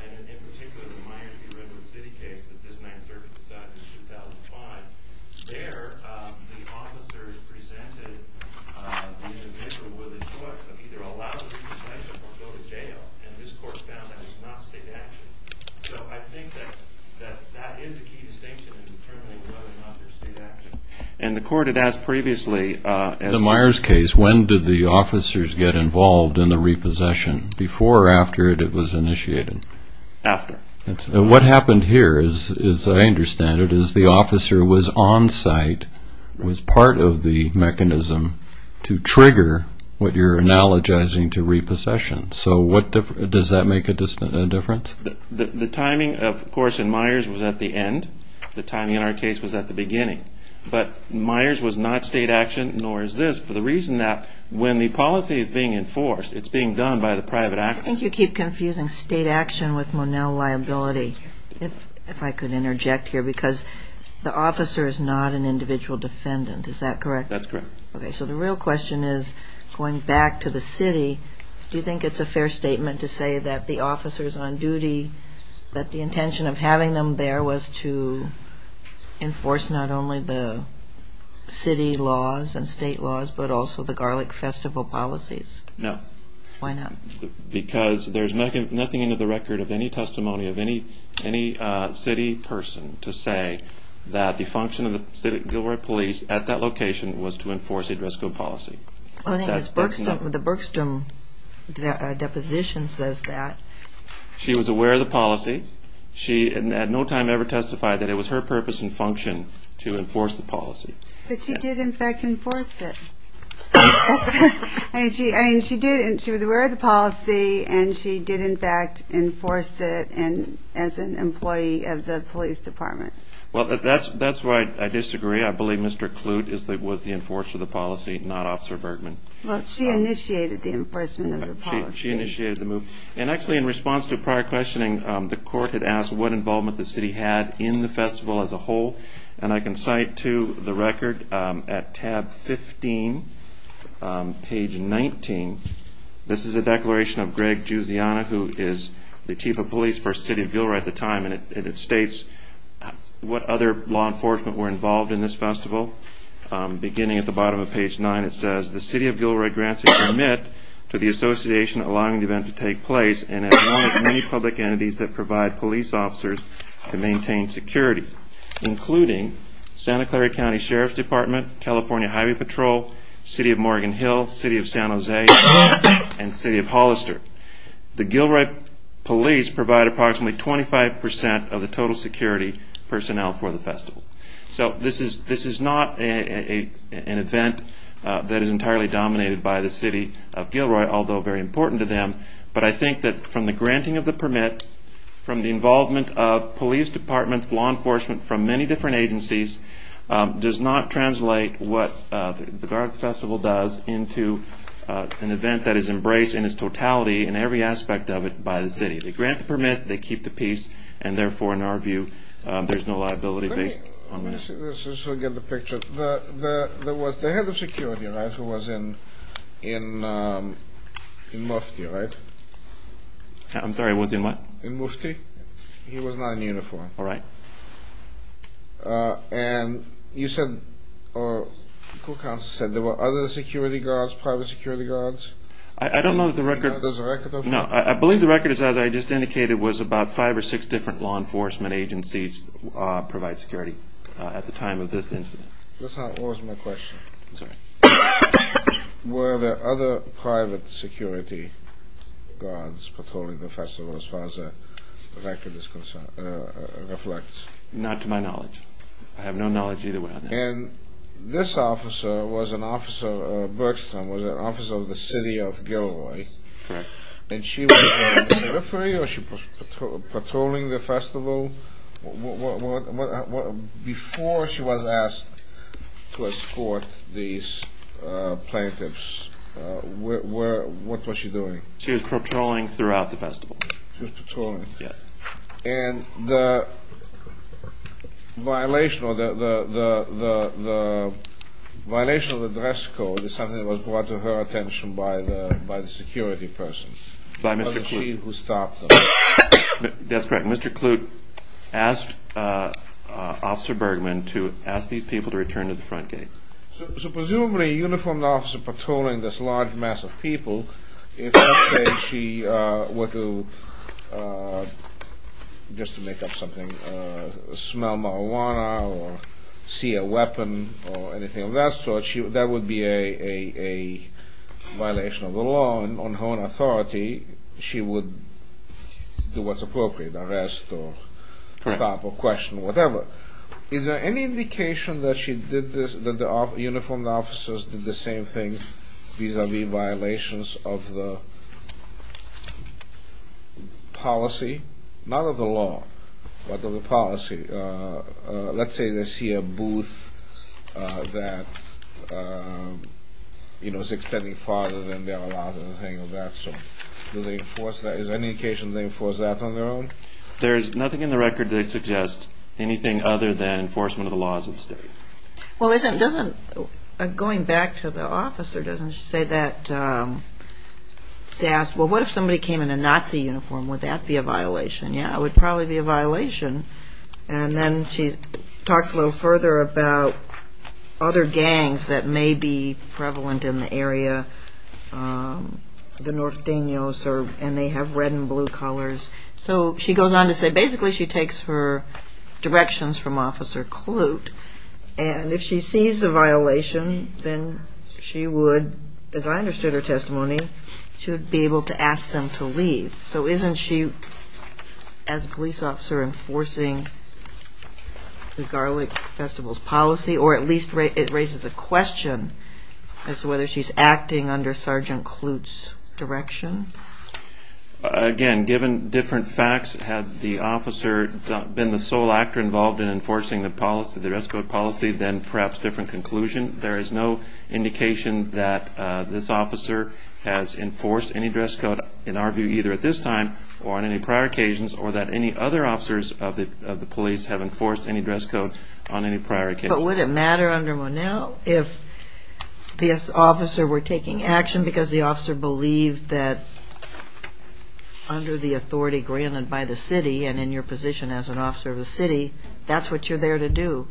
and in particular the Miami-Dade City case that this 9th Circuit decided in 2005, there the officers presented the individual with a choice of either allow the repossession or go to jail. And this Court found that it was not state action. So I think that that is a key distinction in determining whether or not there's state action. And the Court had asked previously... In the Myers case, when did the officers get involved in the repossession? Before or after it was initiated? After. What happened here, as I understand it, is the officer was on site, was part of the mechanism to trigger what you're analogizing to repossession. So does that make a difference? The timing, of course, in Myers was at the end. The timing in our case was at the beginning. But Myers was not state action, nor is this, for the reason that when the policy is being enforced, it's being done by the private actor. I think you keep confusing state action with Monell liability, if I could interject here, because the officer is not an individual defendant, is that correct? That's correct. Okay. So the real question is, going back to the city, do you think it's a fair statement to say that the officers on duty, that the intention of having them there was to enforce not only the city laws and state laws, but also the Garlic Festival policies? No. Why not? Because there's nothing into the record of any testimony of any city person to say that the function of the Gilroy police at that location was to enforce a DRISCO policy. The Bergstrom deposition says that. She was aware of the policy. She at no time ever testified that it was her purpose and function to enforce the policy. But she did, in fact, enforce it. I mean, she did, and she was aware of the policy, and she did, in fact, enforce it as an employee of the police department. Well, that's why I disagree. I believe Mr. Kloot was the enforcer of the policy, not Officer Bergman. Well, she initiated the enforcement of the policy. She initiated the move. And actually, in response to a prior questioning, the court had asked what involvement the city had in the festival as a whole, and I can cite to the record at tab 15, page 19, this is a declaration of Greg Giusiana, who is the chief of police for the city of Gilroy at the time, and it states what other law enforcement were involved in this festival. Beginning at the bottom of page 9, it says, the city of Gilroy grants a permit to the association allowing the event to take place and has one of many public entities that provide police officers to maintain security, including Santa Clara County Sheriff's Department, California Highway Patrol, City of Morgan Hill, City of San Jose, and City of Hollister. The Gilroy police provide approximately 25% of the total security personnel for the festival. So this is not an event that is entirely dominated by the city of Gilroy, although very important to them, but I think that from the granting of the permit, from the involvement of police departments, law enforcement from many different agencies, does not translate what the Garg Festival does into an event that is embraced in its totality in every aspect of it by the city. They grant the permit, they keep the peace, and therefore, in our view, there's no liability based on that. Let me see this just so I get the picture. There was the head of security, right, who was in Mufti, right? I'm sorry, was in what? In Mufti. He was not in uniform. All right. And you said, or the court counsel said, there were other security guards, private security guards? I don't know that the record. There's a record of that? No, I believe the record is that I just indicated was about five or six different law enforcement agencies provide security at the time of this incident. That's not always my question. I'm sorry. Were there other private security guards patrolling the festival as far as the record reflects? Not to my knowledge. I have no knowledge either way on that. And this officer was an officer, Burkstone was an officer of the city of Gilroy. Correct. And she was patrolling the festival? Before she was asked to escort these plaintiffs, what was she doing? She was patrolling throughout the festival. She was patrolling. Yes. And the violation of the dress code is something that was brought to her attention by the security person. By Mr. Clute. It was she who stopped them. That's correct. Mr. Clute asked Officer Bergman to ask these people to return to the front gate. Presumably a uniformed officer patrolling this large mass of people, if she were to, just to make up something, smell marijuana or see a weapon or anything of that sort, that would be a violation of the law on her own authority. She would do what's appropriate, arrest or stop or question, whatever. Is there any indication that the uniformed officers did the same thing vis-à-vis violations of the policy? Not of the law, but of the policy. Let's say they see a booth that is extending farther than they are allowed or anything of that sort. Do they enforce that? Is there any indication they enforce that on their own? There's nothing in the record that suggests anything other than enforcement of the laws of the state. Well, isn't it, doesn't, going back to the officer, doesn't she say that, she asks, well, what if somebody came in a Nazi uniform, would that be a violation? Yeah, it would probably be a violation. And then she talks a little further about other gangs that may be prevalent in the area. The Norteños serve, and they have red and blue colors. So she goes on to say basically she takes her directions from Officer Kloot, and if she sees a violation, then she would, as I understood her testimony, she would be able to ask them to leave. So isn't she, as a police officer, enforcing the Garlic Festival's policy, or at least it raises a question as to whether she's acting under Sergeant Kloot's direction? Again, given different facts, had the officer been the sole actor involved in enforcing the policy, the dress code policy, then perhaps different conclusion. There is no indication that this officer has enforced any dress code, in our view, either at this time or on any prior occasions, or that any other officers of the police have enforced any dress code on any prior occasion. But would it matter under Monell if this officer were taking action because the officer believed that under the authority granted by the city and in your position as an officer of the city, that's what you're there to do,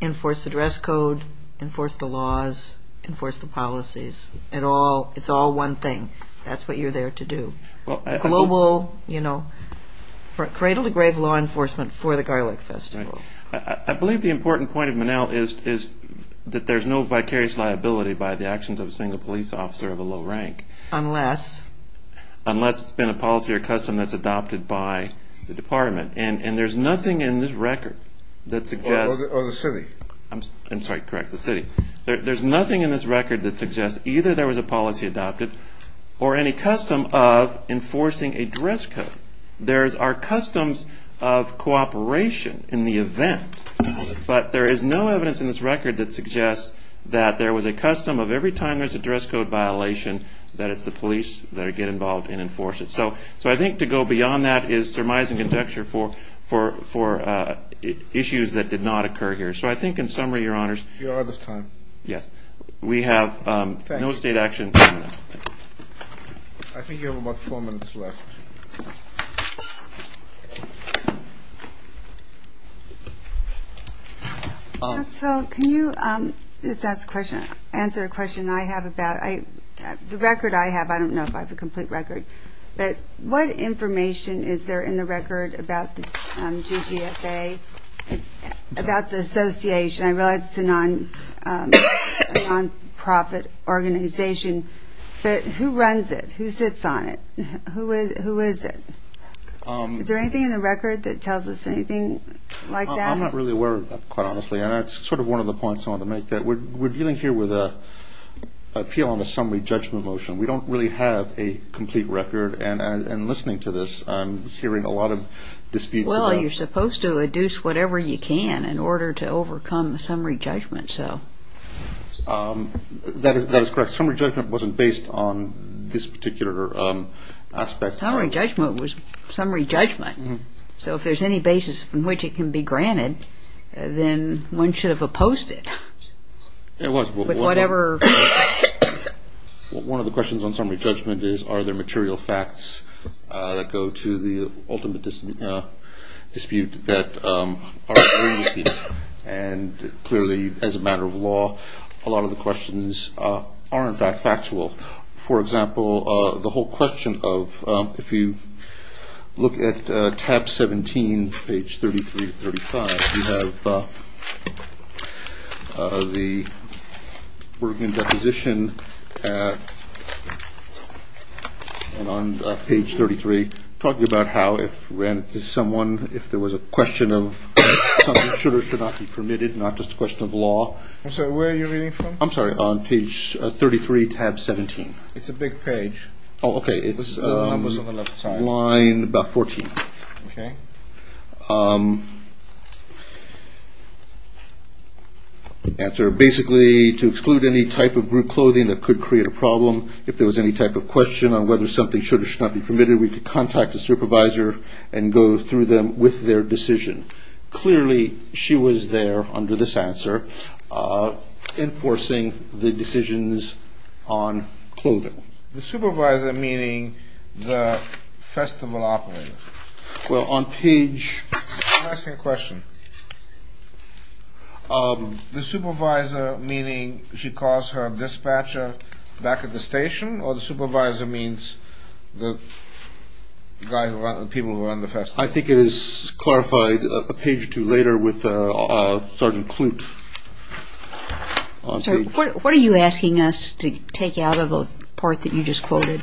enforce the dress code, enforce the laws, enforce the policies. It's all one thing. That's what you're there to do. Global, you know, cradle-to-grave law enforcement for the Garlic Festival. I believe the important point of Monell is that there's no vicarious liability by the actions of a single police officer of a low rank. Unless? Unless it's been a policy or custom that's adopted by the department. And there's nothing in this record that suggests. Or the city. I'm sorry, correct, the city. There's nothing in this record that suggests either there was a policy adopted or any custom of enforcing a dress code. There are customs of cooperation in the event, but there is no evidence in this record that suggests that there was a custom of every time there's a dress code violation that it's the police that get involved and enforce it. So I think to go beyond that is surmising conjecture for issues that did not occur here. So I think in summary, Your Honors, we have no state action. I think you have about four minutes left. So can you just answer a question I have about the record I have? I don't know if I have a complete record. But what information is there in the record about the GGFA, about the association? I realize it's a nonprofit organization. But who runs it? Who sits on it? Who is it? Is there anything in the record that tells us anything like that? I'm not really aware of that, quite honestly. And that's sort of one of the points I want to make. We're dealing here with an appeal on the summary judgment motion. We don't really have a complete record. And listening to this, I'm hearing a lot of disputes. Well, you're supposed to adduce whatever you can in order to overcome the summary judgment. That is correct. Summary judgment wasn't based on this particular aspect. Summary judgment was summary judgment. So if there's any basis from which it can be granted, then one should have opposed it. It was. One of the questions on summary judgment is, are there material facts that go to the ultimate dispute that are agreed to? And clearly, as a matter of law, a lot of the questions aren't that factual. For example, the whole question of if you look at tab 17, page 33 to 35, you have the Bergen deposition on page 33 talking about how if granted to someone, if there was a question of something should or should not be permitted, not just a question of law. I'm sorry, where are you reading from? I'm sorry, on page 33, tab 17. It's a big page. Oh, okay, it's line about 14. Okay. Answer, basically, to exclude any type of group clothing that could create a problem. If there was any type of question on whether something should or should not be permitted, we could contact the supervisor and go through them with their decision. Clearly, she was there under this answer enforcing the decisions on clothing. The supervisor meaning the festival operator? Well, on page 33. I'm asking a question. The supervisor meaning she calls her dispatcher back at the station, or the supervisor means the people who run the festival? I think it is clarified a page or two later with Sergeant Klute. What are you asking us to take out of the part that you just quoted?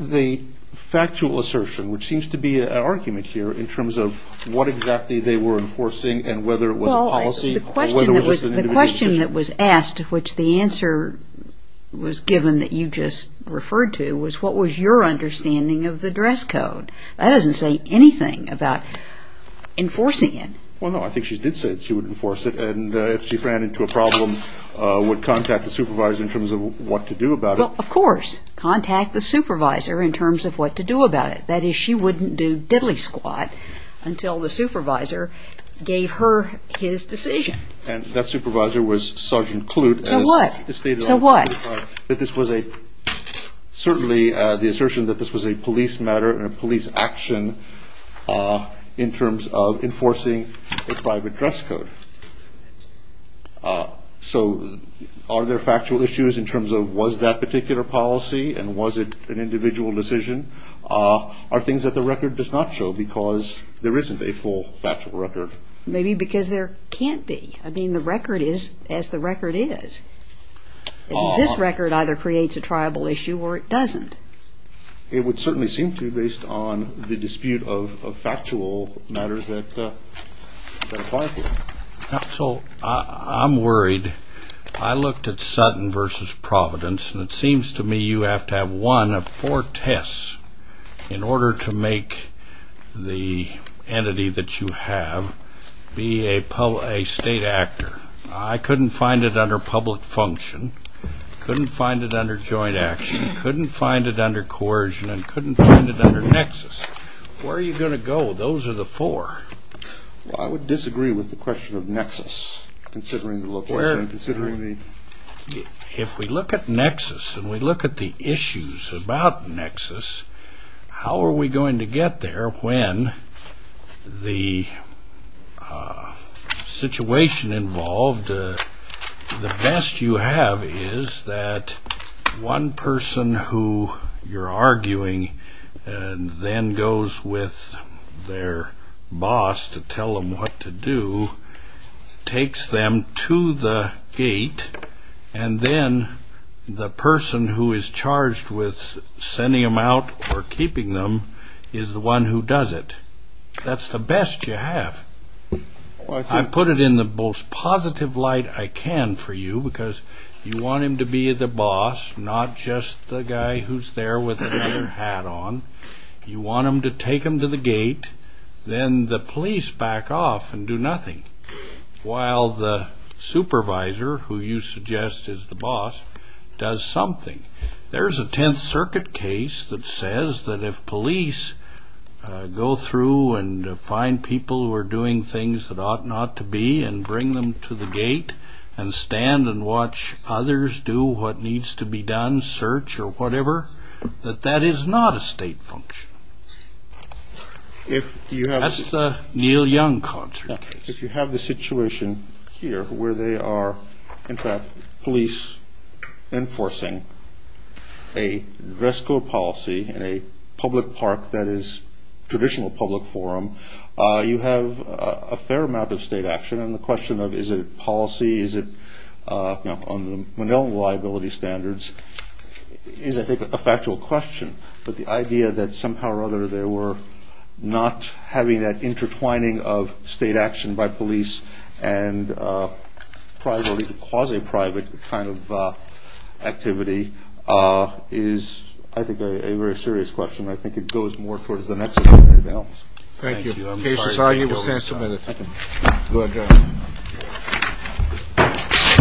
The factual assertion, which seems to be an argument here in terms of what exactly they were enforcing and whether it was a policy or whether it was an individual decision. The question that was asked, which the answer was given that you just referred to, was what was your understanding of the dress code? That doesn't say anything about enforcing it. Well, no, I think she did say she would enforce it. And if she ran into a problem, would contact the supervisor in terms of what to do about it. Well, of course. Contact the supervisor in terms of what to do about it. That is, she wouldn't do diddly squat until the supervisor gave her his decision. And that supervisor was Sergeant Klute. So what? Certainly the assertion that this was a police matter and a police action in terms of enforcing a private dress code. So are there factual issues in terms of was that particular policy and was it an individual decision? Are things that the record does not show because there isn't a full factual record? Maybe because there can't be. I mean, the record is as the record is. This record either creates a triable issue or it doesn't. It would certainly seem to based on the dispute of factual matters that apply here. So I'm worried. I looked at Sutton versus Providence, and it seems to me you have to have one of four tests in order to make the entity that you have be a state actor. I couldn't find it under public function, couldn't find it under joint action, couldn't find it under coercion, and couldn't find it under nexus. Where are you going to go? Those are the four. Well, I would disagree with the question of nexus, considering the location, considering the... If we look at nexus and we look at the issues about nexus, how are we going to get there when the situation involved, the best you have is that one person who you're arguing and then goes with their boss to tell them what to do, takes them to the gate, and then the person who is charged with sending them out or keeping them is the one who does it. That's the best you have. I put it in the most positive light I can for you because you want him to be the boss, not just the guy who's there with another hat on. You want him to take them to the gate, then the police back off and do nothing, while the supervisor, who you suggest is the boss, does something. There's a Tenth Circuit case that says that if police go through and find people who are doing things that ought not to be and bring them to the gate and stand and watch others do what needs to be done, search or whatever, that that is not a state function. That's the Neil Young concert case. If you have the situation here where they are, in fact, police enforcing a DRESCO policy in a public park that is traditional public forum, you have a fair amount of state action. And the question of is it policy, is it on the Manila liability standards, is, I think, a factual question. But the idea that somehow or other they were not having that intertwining of state action by police and quasi-private kind of activity is, I think, a very serious question. I think it goes more towards the nexus than anything else. Thank you. The case is argued. We stand submitted. Thank you. Good job.